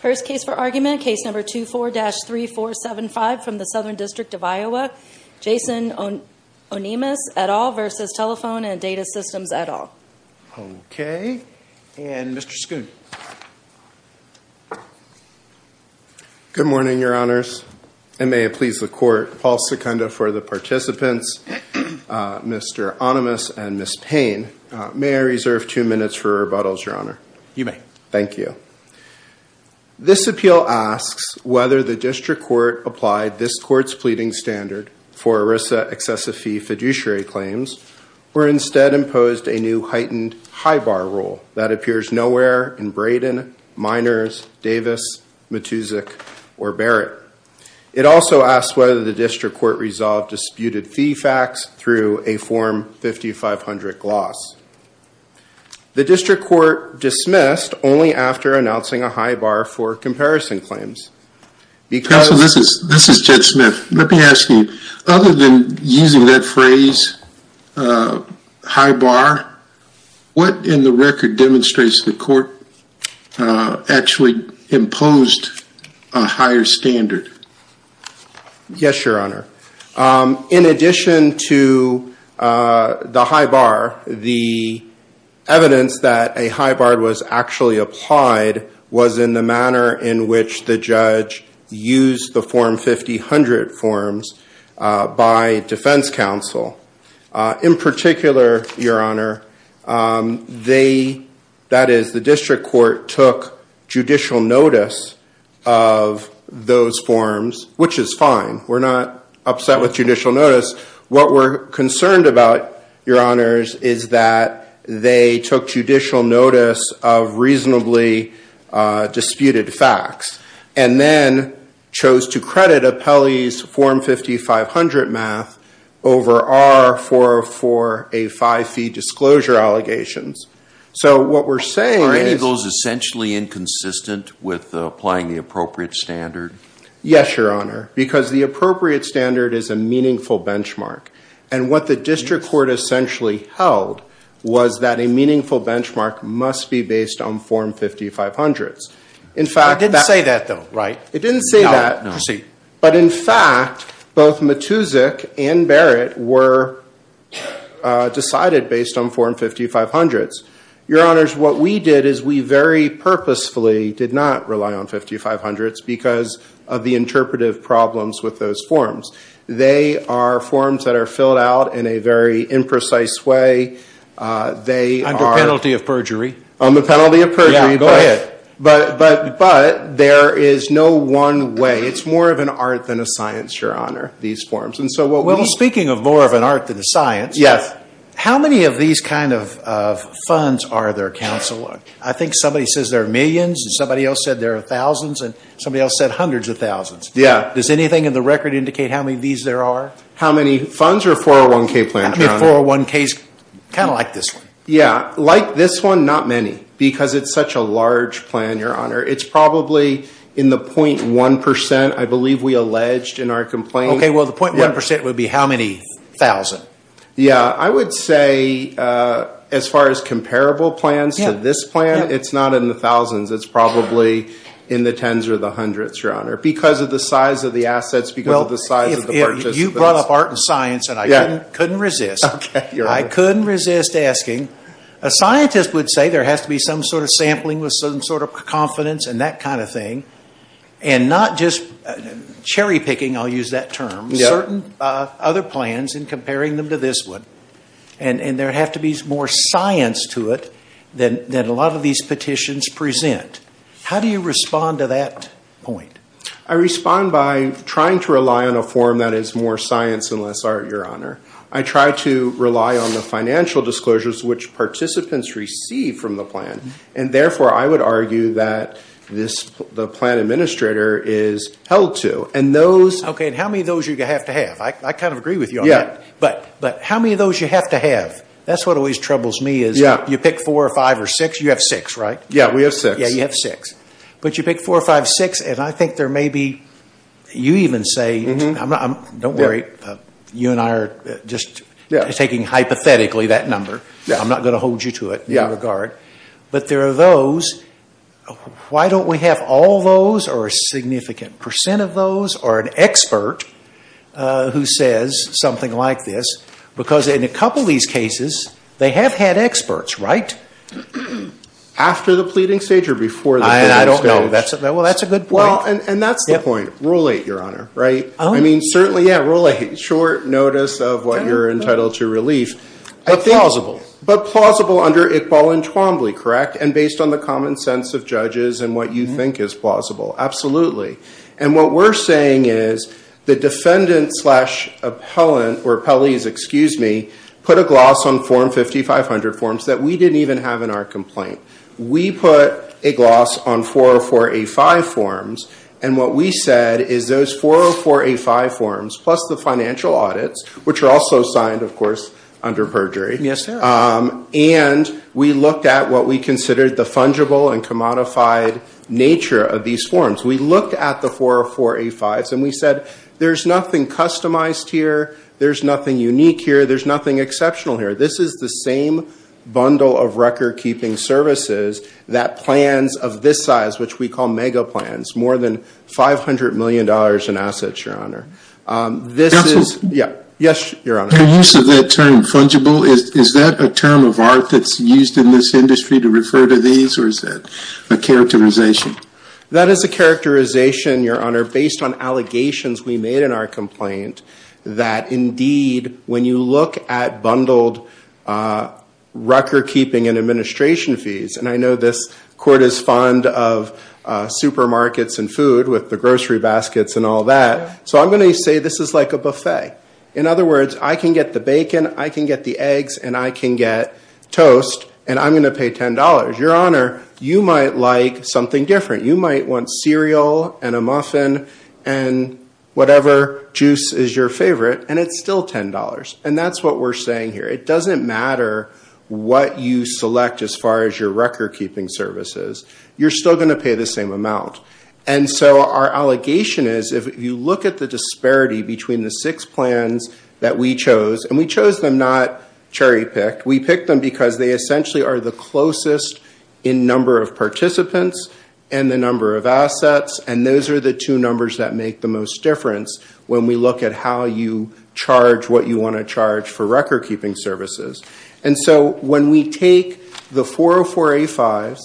First case for argument, case number 24-3475 from the Southern District of Iowa, Jason Onemus et al. v. Telephone and Data Systems et al. Okay, and Mr. Schoon. Good morning, your honors. And may it please the court, Paul Secunda for the participants, Mr. Ohnemus and Ms. Payne, may I reserve two minutes for rebuttals, your honor? You may. Okay, thank you. This appeal asks whether the district court applied this court's pleading standard for ERISA excessive fee fiduciary claims or instead imposed a new heightened high bar rule that appears nowhere in Braden, Miners, Davis, Matusik, or Barrett. It also asks whether the district court resolved disputed fee facts through a Form 5500 gloss. The district court dismissed only after announcing a high bar for comparison claims. Counsel, this is Judge Smith. Let me ask you, other than using that phrase, high bar, what in the record demonstrates the court actually imposed a higher standard? Yes, your honor. In addition to the high bar, the evidence that a high bar was actually applied was in the manner in which the judge used the Form 5500 forms by defense counsel. In particular, your honor, that is, the district court took judicial notice of those forms, which is fine. We're not upset with judicial notice. What we're concerned about, your honors, is that they took judicial notice of reasonably disputed facts and then chose to credit appellees' Form 5500 math over our 404A5 fee disclosure allegations. Are any of those essentially inconsistent with applying the appropriate standard? Yes, your honor, because the appropriate standard is a meaningful benchmark. And what the district court essentially held was that a meaningful benchmark must be based on Form 5500. It didn't say that, though, right? It didn't say that. But in fact, both Matusik and Barrett were decided based on Form 5500. Your honors, what we did is we very purposefully did not rely on 5500s because of the interpretive problems with those forms. They are forms that are filled out in a very imprecise way. Under penalty of perjury. Under penalty of perjury. Yeah, go ahead. But there is no one way. It's more of an art than a science, your honor, these forms. Well, speaking of more of an art than a science. Yes. How many of these kind of funds are there, counsel? I think somebody says there are millions and somebody else said there are thousands and somebody else said hundreds of thousands. Yeah. Does anything in the record indicate how many of these there are? How many funds are 401K plans, your honor? I mean, 401K is kind of like this one. Yeah, like this one, not many because it's such a large plan, your honor. It's probably in the 0.1%, I believe we alleged in our complaint. Okay, well, the 0.1% would be how many thousand? Yeah, I would say as far as comparable plans to this plan, it's not in the thousands. It's probably in the tens or the hundreds, your honor. Because of the size of the assets, because of the size of the purchase. You brought up art and science and I couldn't resist. I couldn't resist asking. A scientist would say there has to be some sort of sampling with some sort of confidence and that kind of thing. And not just cherry picking, I'll use that term, certain other plans and comparing them to this one. And there have to be more science to it than a lot of these petitions present. How do you respond to that point? I respond by trying to rely on a form that is more science and less art, your honor. I try to rely on the financial disclosures which participants receive from the plan. And therefore, I would argue that the plan administrator is held to. Okay, and how many of those do you have to have? I kind of agree with you on that. But how many of those do you have to have? That's what always troubles me is you pick four or five or six. You have six, right? Yeah, we have six. Yeah, you have six. But you pick four or five or six and I think there may be, you even say, don't worry, you and I are just taking hypothetically that number. I'm not going to hold you to it in regard. But there are those. Why don't we have all those or a significant percent of those or an expert who says something like this? Because in a couple of these cases, they have had experts, right? After the pleading stage or before the pleading stage? I don't know. Well, that's a good point. Well, and that's the point. Rule eight, your honor, right? I mean, certainly, yeah, rule eight, short notice of what you're entitled to relief. But plausible. But plausible under Iqbal and Twombly, correct? And based on the common sense of judges and what you think is plausible. Absolutely. And what we're saying is the defendant slash appellant or appellees, excuse me, put a gloss on form 5500 forms that we didn't even have in our complaint. We put a gloss on 404A5 forms and what we said is those 404A5 forms plus the financial audits, which are also signed, of course, under perjury. Yes, sir. And we looked at what we considered the fungible and commodified nature of these forms. We looked at the 404A5s and we said there's nothing customized here. There's nothing unique here. There's nothing exceptional here. This is the same bundle of recordkeeping services that plans of this size, which we call mega plans, more than $500 million in assets, your honor. This is. Yes, your honor. Your use of that term fungible, is that a term of art that's used in this industry to refer to these or is that a characterization? That is a characterization, your honor, based on allegations we made in our complaint that indeed when you look at bundled recordkeeping and administration fees, and I know this court is fond of supermarkets and food with the grocery baskets and all that. So I'm going to say this is like a buffet. In other words, I can get the bacon, I can get the eggs and I can get toast and I'm going to pay $10. Your honor, you might like something different. You might want cereal and a muffin and whatever juice is your favorite and it's still $10. And that's what we're saying here. It doesn't matter what you select as far as your recordkeeping services. You're still going to pay the same amount. And so our allegation is if you look at the disparity between the six plans that we chose, and we chose them not cherry-picked. We picked them because they essentially are the closest in number of participants and the number of assets, and those are the two numbers that make the most difference when we look at how you charge what you want to charge for recordkeeping services. And so when we take the 404A5s,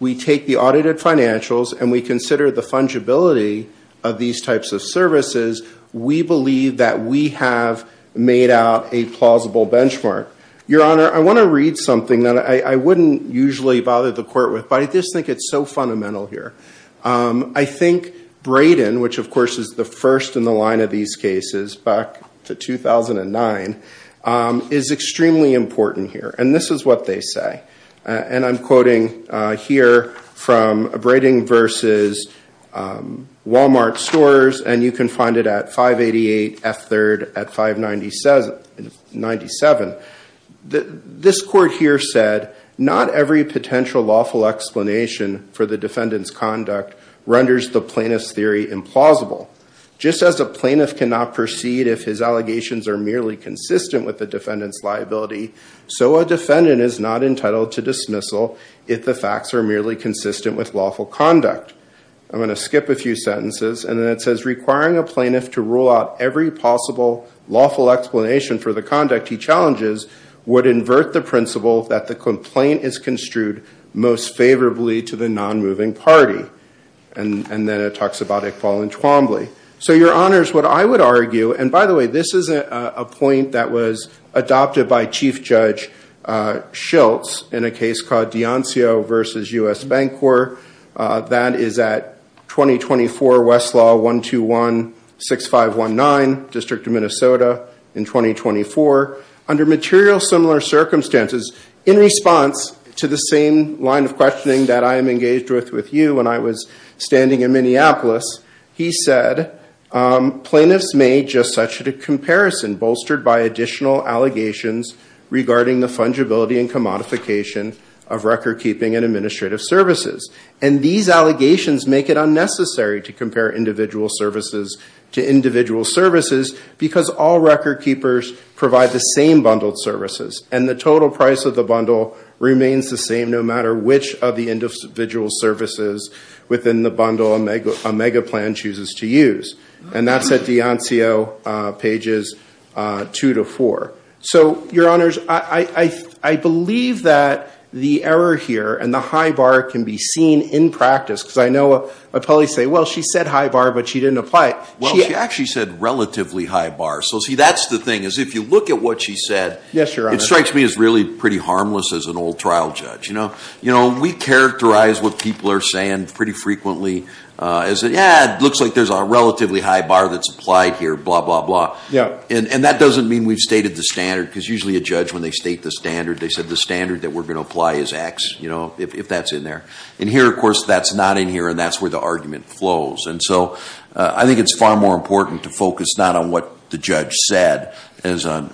we take the audited financials and we consider the fungibility of these types of services, we believe that we have made out a plausible benchmark. Your honor, I want to read something that I wouldn't usually bother the court with, but I just think it's so fundamental here. I think Brayden, which of course is the first in the line of these cases back to 2009, is extremely important here. And this is what they say. And I'm quoting here from Brayden v. Walmart Stores, and you can find it at 588 F. 3rd at 597. This court here said, Not every potential lawful explanation for the defendant's conduct renders the plaintiff's theory implausible. Just as a plaintiff cannot proceed if his allegations are merely consistent with the defendant's liability, so a defendant is not entitled to dismissal if the facts are merely consistent with lawful conduct. I'm going to skip a few sentences, and then it says, Requiring a plaintiff to rule out every possible lawful explanation for the conduct he challenges would invert the principle that the complaint is construed most favorably to the non-moving party. And then it talks about Iqbal and Twombly. So, your honors, what I would argue, and by the way, this is a point that was adopted by Chief Judge Schultz in a case called D'Anzio v. U.S. Bancorp. That is at 2024 Westlaw 1216519, District of Minnesota, in 2024. Under material similar circumstances, in response to the same line of questioning that I am engaged with with you when I was standing in Minneapolis, he said, Plaintiffs made just such a comparison bolstered by additional allegations regarding the fungibility and commodification of record-keeping and administrative services. And these allegations make it unnecessary to compare individual services to individual services because all record-keepers provide the same bundled services. And the total price of the bundle remains the same no matter which of the individual services within the bundle a mega plan chooses to use. And that's at D'Anzio pages 2 to 4. So, your honors, I believe that the error here and the high bar can be seen in practice. Because I know appellees say, well, she said high bar, but she didn't apply it. Well, she actually said relatively high bar. So, see, that's the thing, is if you look at what she said, it strikes me as really pretty harmless as an old trial judge. You know, we characterize what people are saying pretty frequently as, yeah, it looks like there's a relatively high bar that's applied here, blah, blah, blah. And that doesn't mean we've stated the standard because usually a judge, when they state the standard, they said the standard that we're going to apply is X, you know, if that's in there. And here, of course, that's not in here, and that's where the argument flows. And so I think it's far more important to focus not on what the judge said as on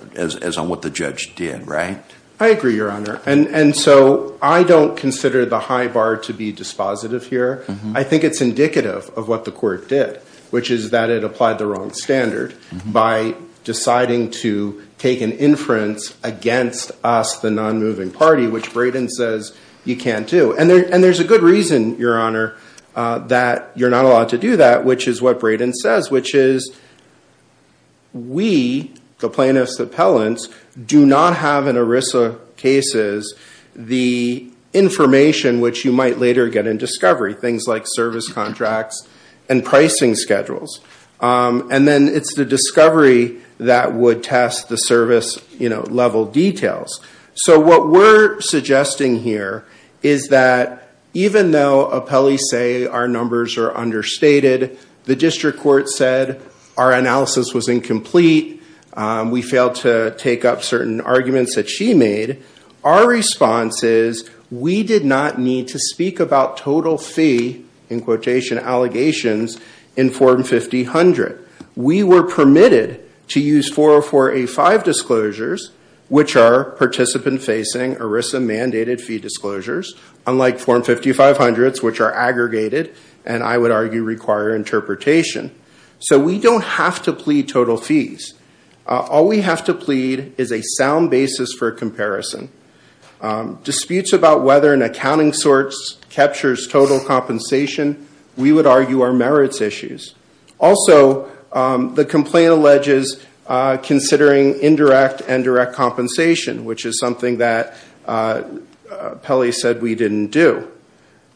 what the judge did, right? I agree, your honor. And so I don't consider the high bar to be dispositive here. I think it's indicative of what the court did, which is that it applied the wrong standard by deciding to take an inference against us, the non-moving party, which Braden says you can't do. And there's a good reason, your honor, that you're not allowed to do that, which is what Braden says, which is we, the plaintiffs' appellants, do not have in ERISA cases the information which you might later get in discovery, things like service contracts and pricing schedules. And then it's the discovery that would test the service, you know, level details. So what we're suggesting here is that even though appellees say our numbers are understated, the district court said our analysis was incomplete, we failed to take up certain arguments that she made, our response is we did not need to speak about total fee, in quotation, allegations in Form 50-100. We were permitted to use 404A-5 disclosures, which are participant-facing ERISA-mandated fee disclosures, unlike Form 50-500s, which are aggregated and I would argue require interpretation. So we don't have to plead total fees. All we have to plead is a sound basis for comparison. Disputes about whether an accounting source captures total compensation, we would argue are merits issues. Also, the complaint alleges considering indirect and direct compensation, which is something that Pelley said we didn't do.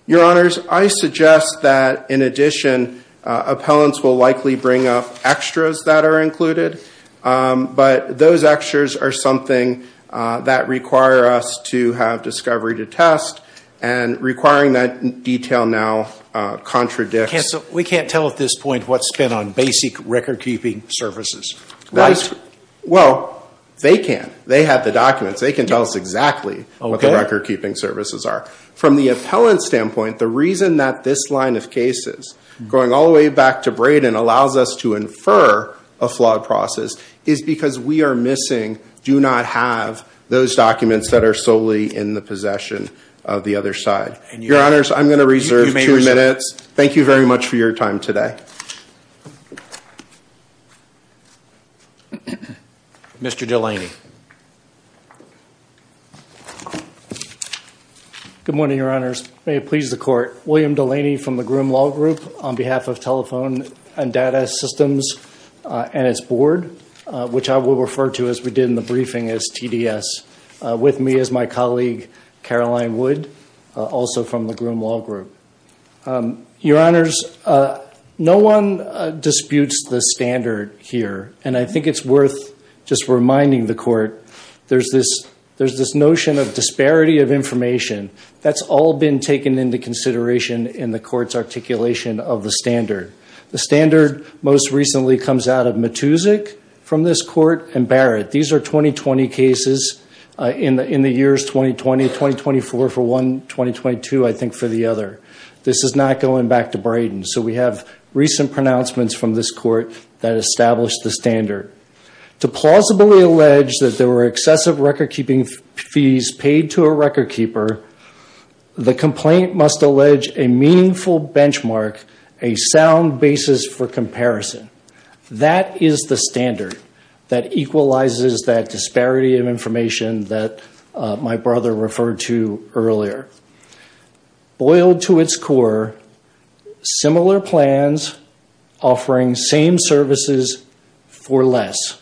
Your Honors, I suggest that, in addition, appellants will likely bring up extras that are included, but those extras are something that require us to have discovery to test and requiring that detail now contradicts. We can't tell at this point what's spent on basic record-keeping services, right? Well, they can. They have the documents. They can tell us exactly what the record-keeping services are. From the appellant's standpoint, the reason that this line of cases, going all the way back to Braden, allows us to infer a flawed process is because we are missing, do not have those documents that are solely in the possession of the other side. Your Honors, I'm going to reserve two minutes. Thank you very much for your time today. Mr. Delaney. Good morning, Your Honors. May it please the Court. William Delaney from the Groom Law Group on behalf of Telephone and Data Systems and its board, which I will refer to, as we did in the briefing, as TDS. With me is my colleague, Caroline Wood, also from the Groom Law Group. Your Honors, no one disputes the standard here, and I think it's worth just reminding the Court, there's this notion of disparity of information. That's all been taken into consideration in the Court's articulation of the standard. The standard most recently comes out of Matusik from this Court and Barrett. These are 2020 cases in the years 2020-2024 for one, 2022, I think, for the other. This is not going back to Braden. So we have recent pronouncements from this Court that established the standard. To plausibly allege that there were excessive recordkeeping fees paid to a recordkeeper, the complaint must allege a meaningful benchmark, a sound basis for comparison. That is the standard that equalizes that disparity of information that my brother referred to earlier. Boiled to its core, similar plans offering same services for less.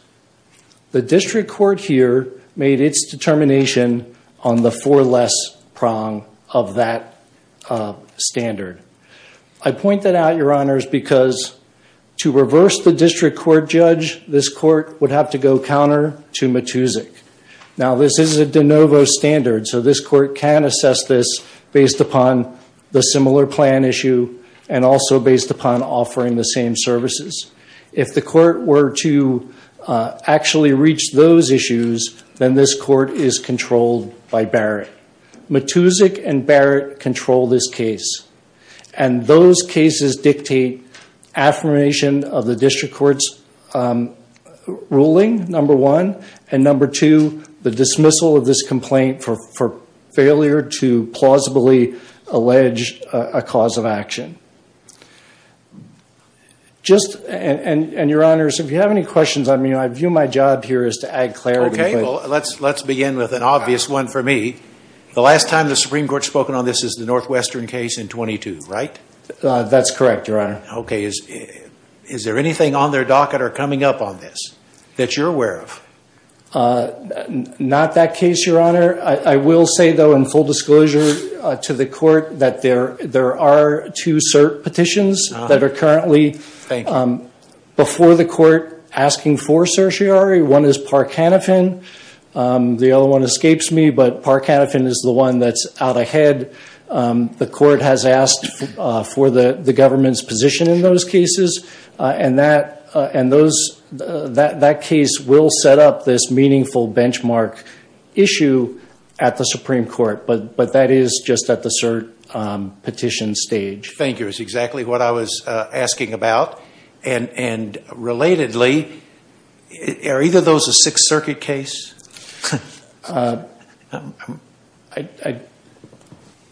The District Court here made its determination on the for less prong of that standard. I point that out, Your Honors, because to reverse the District Court judge, this Court would have to go counter to Matusik. Now, this is a de novo standard, so this Court can assess this based upon the similar plan issue and also based upon offering the same services. If the Court were to actually reach those issues, then this Court is controlled by Barrett. Matusik and Barrett control this case. And those cases dictate affirmation of the District Court's ruling, number one, and number two, the dismissal of this complaint for failure to plausibly allege a cause of action. And, Your Honors, if you have any questions on me, I view my job here as to add clarity. Okay. Well, let's begin with an obvious one for me. The last time the Supreme Court has spoken on this is the Northwestern case in 22, right? That's correct, Your Honor. Okay. Is there anything on their docket or coming up on this that you're aware of? Not that case, Your Honor. I will say, though, in full disclosure to the Court that there are two cert petitions that are currently before the Court asking for certiorari. One is Park Hanifin. The other one escapes me, but Park Hanifin is the one that's out ahead. The Court has asked for the government's position in those cases, and that case will set up this meaningful benchmark issue at the Supreme Court, but that is just at the cert petition stage. Thank you. That's exactly what I was asking about. And relatedly, are either of those a Sixth Circuit case?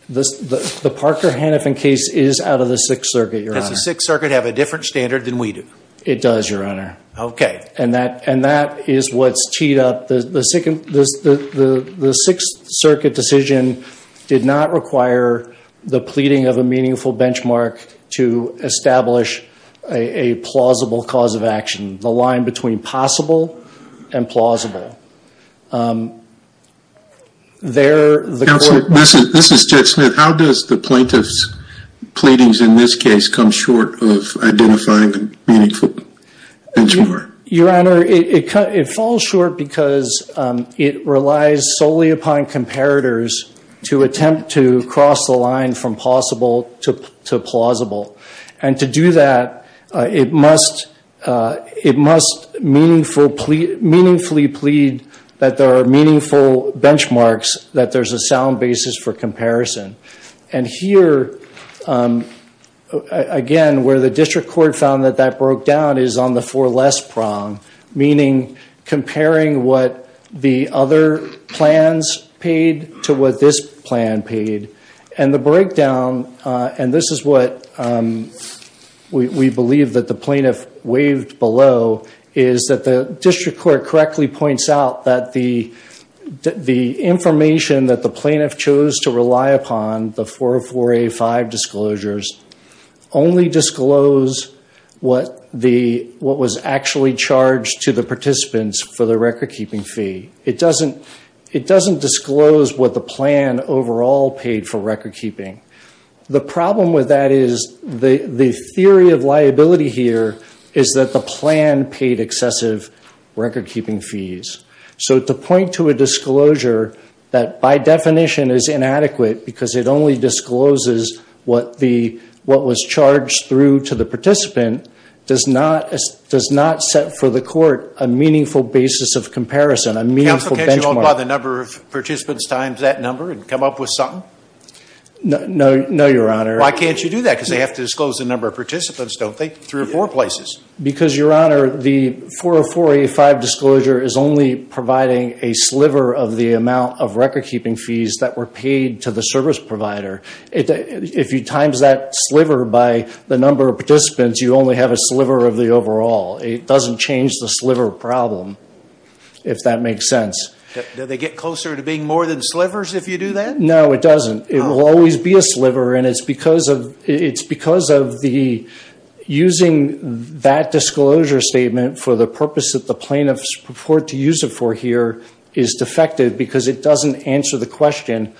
The Parker Hanifin case is out of the Sixth Circuit, Your Honor. Does the Sixth Circuit have a different standard than we do? It does, Your Honor. Okay. And that is what's teed up. The Sixth Circuit decision did not require the pleading of a meaningful benchmark to establish a plausible cause of action, the line between possible and plausible. Counsel, this is Jed Smith. How does the plaintiff's pleadings in this case come short of identifying a meaningful benchmark? Your Honor, it falls short because it relies solely upon comparators to attempt to cross the line from possible to plausible. And to do that, it must meaningfully plead that there are meaningful benchmarks, that there's a sound basis for comparison. And here, again, where the district court found that that broke down is on the for less prong, meaning comparing what the other plans paid to what this plan paid. And the breakdown, and this is what we believe that the plaintiff waved below, is that the district court correctly points out that the information that the plaintiff chose to rely upon, the 404A5 disclosures, only disclose what was actually charged to the participants for the record-keeping fee. It doesn't disclose what the plan overall paid for record-keeping. The problem with that is the theory of liability here is that the plan paid excessive record-keeping fees. So to point to a disclosure that, by definition, is inadequate because it only discloses what was charged through to the participant, does not set for the court a meaningful basis of comparison, a meaningful benchmark. Counsel, can't you multiply the number of participants times that number and come up with something? No, Your Honor. Why can't you do that? Because they have to disclose the number of participants, don't they, three or four places? Because, Your Honor, the 404A5 disclosure is only providing a sliver of the amount of record-keeping fees that were paid to the service provider. If you times that sliver by the number of participants, you only have a sliver of the overall. It doesn't change the sliver problem, if that makes sense. Do they get closer to being more than slivers if you do that? No, it doesn't. It will always be a sliver, and it's because of the using that disclosure statement for the purpose that the plaintiffs purport to use it for here is defective because it doesn't answer the question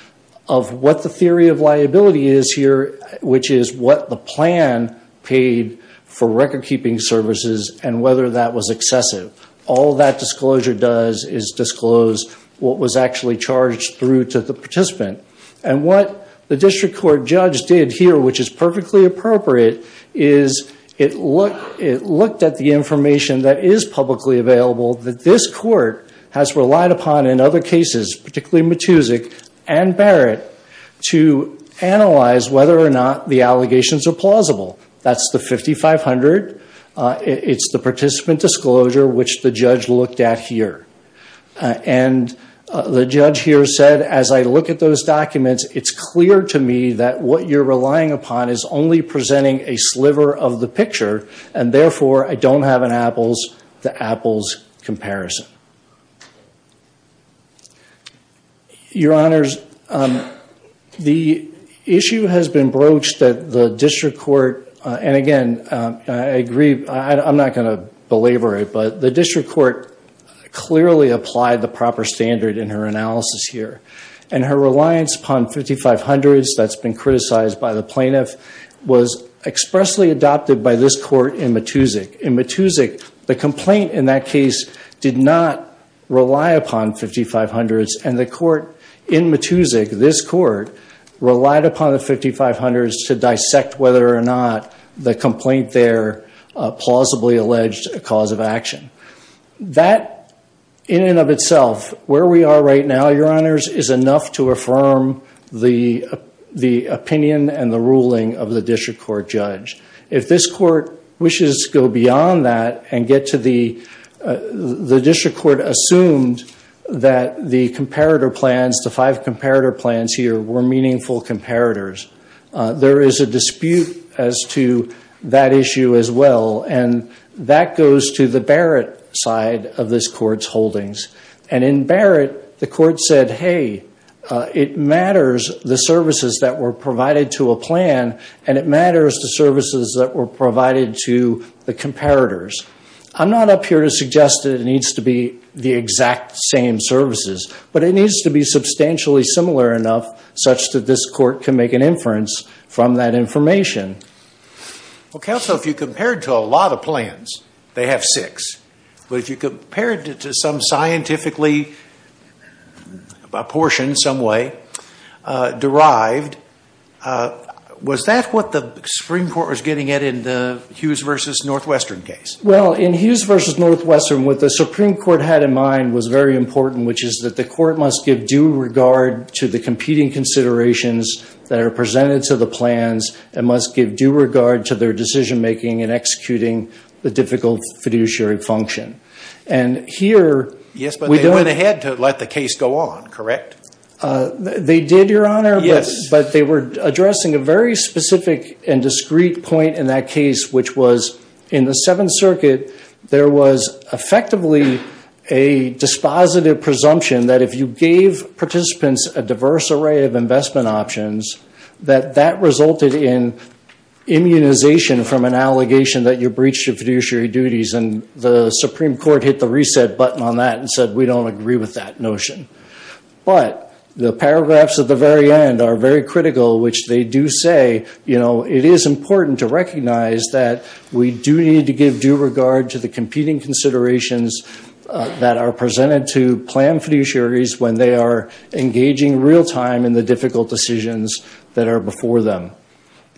of what the theory of liability is here, which is what the plan paid for record-keeping services and whether that was excessive. All that disclosure does is disclose what was actually charged through to the participant. And what the district court judge did here, which is perfectly appropriate, is it looked at the information that is publicly available that this court has relied upon in other cases, particularly Matusik and Barrett, to analyze whether or not the allegations are plausible. That's the 5500. It's the participant disclosure, which the judge looked at here. And the judge here said, as I look at those documents, it's clear to me that what you're relying upon is only presenting a sliver of the picture, and therefore I don't have an apples-to-apples comparison. Your Honors, the issue has been broached that the district court, and again, I agree, I'm not going to belabor it, but the district court clearly applied the proper standard in her analysis here. And her reliance upon 5500s that's been criticized by the plaintiff was expressly adopted by this court in Matusik. In Matusik, the complaint in that case did not rely upon 5500s, and the court in Matusik, this court, relied upon the 5500s to dissect whether or not the complaint there plausibly alleged a cause of action. That, in and of itself, where we are right now, Your Honors, is enough to affirm the opinion and the ruling of the district court judge. If this court wishes to go beyond that and get to the district court assumed that the comparator plans, the five comparator plans here were meaningful comparators, there is a dispute as to that issue as well, and that goes to the Barrett side of this court's holdings. And in Barrett, the court said, hey, it matters, the services that were provided to a plan, and it matters the services that were provided to the comparators. I'm not up here to suggest that it needs to be the exact same services, but it needs to be substantially similar enough such that this court can make an inference from that information. Well, counsel, if you compared to a lot of plans, they have six. But if you compared it to some scientifically apportioned some way, derived, was that what the Supreme Court was getting at in the Hughes v. Northwestern case? Well, in Hughes v. Northwestern, what the Supreme Court had in mind was very important, which is that the court must give due regard to the competing considerations that are presented to the plans and must give due regard to their decision-making in executing the difficult fiduciary function. And here we don't. Yes, but they went ahead to let the case go on, correct? They did, Your Honor. Yes. But they were addressing a very specific and discreet point in that case, which was in the Seventh Circuit, there was effectively a dispositive presumption that if you gave participants a diverse array of investment options, that that resulted in immunization from an allegation that you breached your fiduciary duties. And the Supreme Court hit the reset button on that and said, we don't agree with that notion. But the paragraphs at the very end are very critical, which they do say, you know, it is important to recognize that we do need to give due regard to the competing considerations that are presented to plan fiduciaries when they are engaging real-time in the difficult decisions that are before them.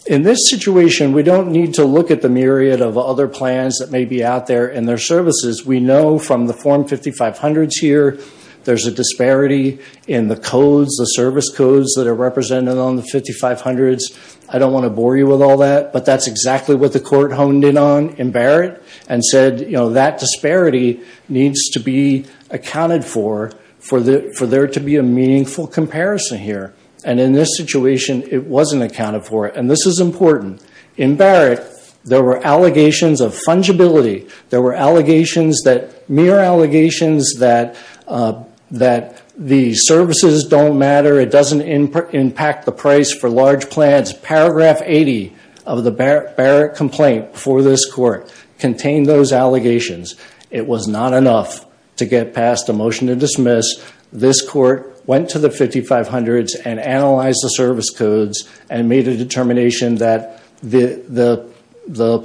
In this situation, we don't need to look at the myriad of other plans that may be out there in their services. We know from the Form 5500s here, there's a disparity in the codes, the service codes that are represented on the 5500s. I don't want to bore you with all that, but that's exactly what the court honed in on in Barrett and said, you know, that disparity needs to be accounted for for there to be a meaningful comparison here. And in this situation, it wasn't accounted for. And this is important. In Barrett, there were allegations of fungibility. There were allegations that mere allegations that the services don't matter. It doesn't impact the price for large plans. Paragraph 80 of the Barrett complaint for this court contained those allegations. It was not enough to get past a motion to dismiss. This court went to the 5500s and analyzed the service codes and made a determination that the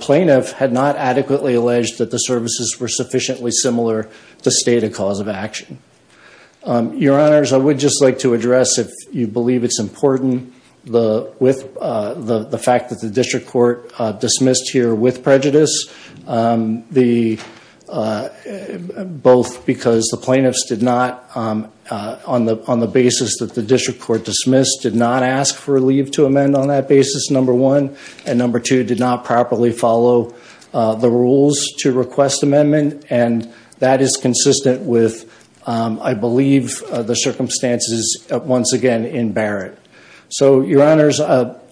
plaintiff had not adequately alleged that the services were sufficiently similar to state a cause of action. Your Honors, I would just like to address if you believe it's important, with the fact that the district court dismissed here with prejudice, both because the plaintiffs did not, on the basis that the district court dismissed, did not ask for a leave to amend on that basis, number one, and number two, did not properly follow the rules to request amendment. And that is consistent with, I believe, the circumstances once again in Barrett. So, Your Honors,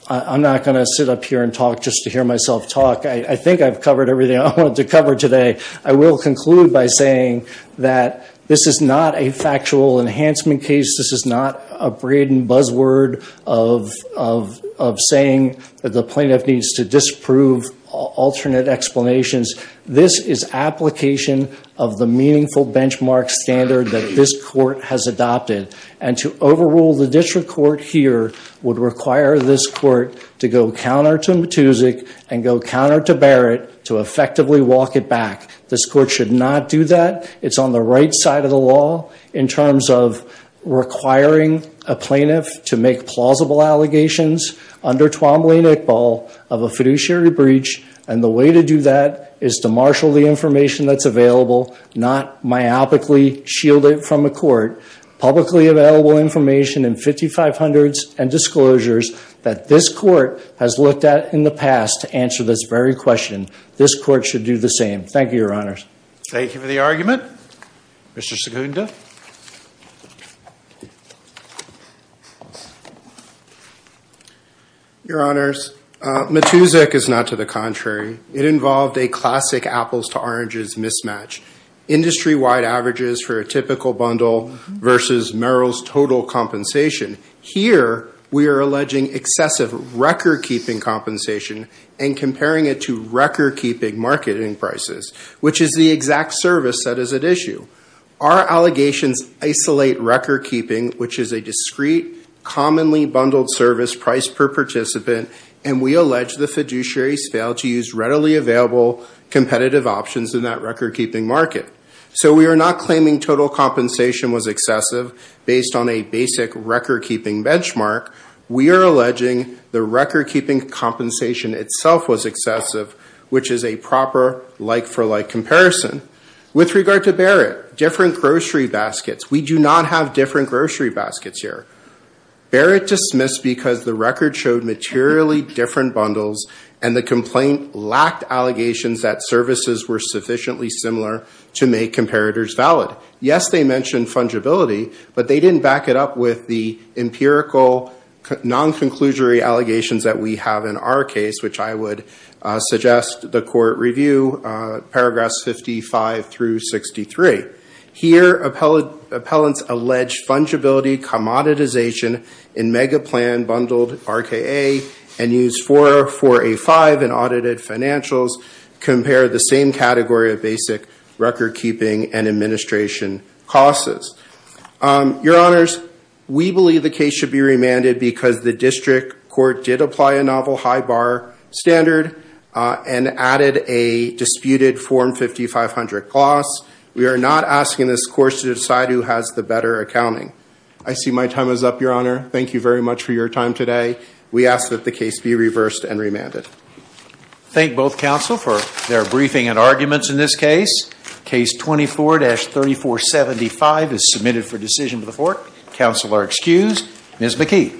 I'm not going to sit up here and talk just to hear myself talk. I think I've covered everything I wanted to cover today. I will conclude by saying that this is not a factual enhancement case. This is not a braiding buzzword of saying that the plaintiff needs to disprove alternate explanations. This is application of the meaningful benchmark standard that this court has adopted. And to overrule the district court here would require this court to go counter to Matusik and go counter to Barrett to effectively walk it back. This court should not do that. It's on the right side of the law in terms of requiring a plaintiff to make plausible allegations under Twombly and Iqbal of a fiduciary breach, and the way to do that is to marshal the information that's available, not myopically shield it from a court, publicly available information in 5500s and disclosures that this court has looked at in the past to answer this very question. This court should do the same. Thank you, Your Honors. Thank you for the argument. Mr. Segunda. Your Honors, Matusik is not to the contrary. It involved a classic apples to oranges mismatch. Industry-wide averages for a typical bundle versus Merrill's total compensation. Here we are alleging excessive record-keeping compensation and comparing it to record-keeping marketing prices, which is the exact service that is at issue. Our allegations isolate record-keeping, which is a discrete, commonly bundled service priced per participant, and we allege the fiduciaries failed to use readily available competitive options in that record-keeping market. So we are not claiming total compensation was excessive based on a basic record-keeping benchmark. We are alleging the record-keeping compensation itself was excessive, which is a proper like-for-like comparison. With regard to Barrett, different grocery baskets. We do not have different grocery baskets here. Barrett dismissed because the record showed materially different bundles and the complaint lacked allegations that services were sufficiently similar to make comparators valid. Yes, they mentioned fungibility, but they didn't back it up with the empirical non-conclusory allegations that we have in our case, which I would suggest the court review paragraphs 55 through 63. Here, appellants allege fungibility, commoditization, in mega-plan bundled RKA and use 4A-5 in audited financials compare the same category of basic record-keeping and administration costs. Your Honors, we believe the case should be remanded because the district court did apply a novel high bar standard and added a disputed Form 5500 clause. We are not asking this court to decide who has the better accounting. I see my time is up, Your Honor. Thank you very much for your time today. We ask that the case be reversed and remanded. Thank both counsel for their briefing and arguments in this case. Case 24-3475 is submitted for decision to the court. Counsel are excused. Ms. McKee.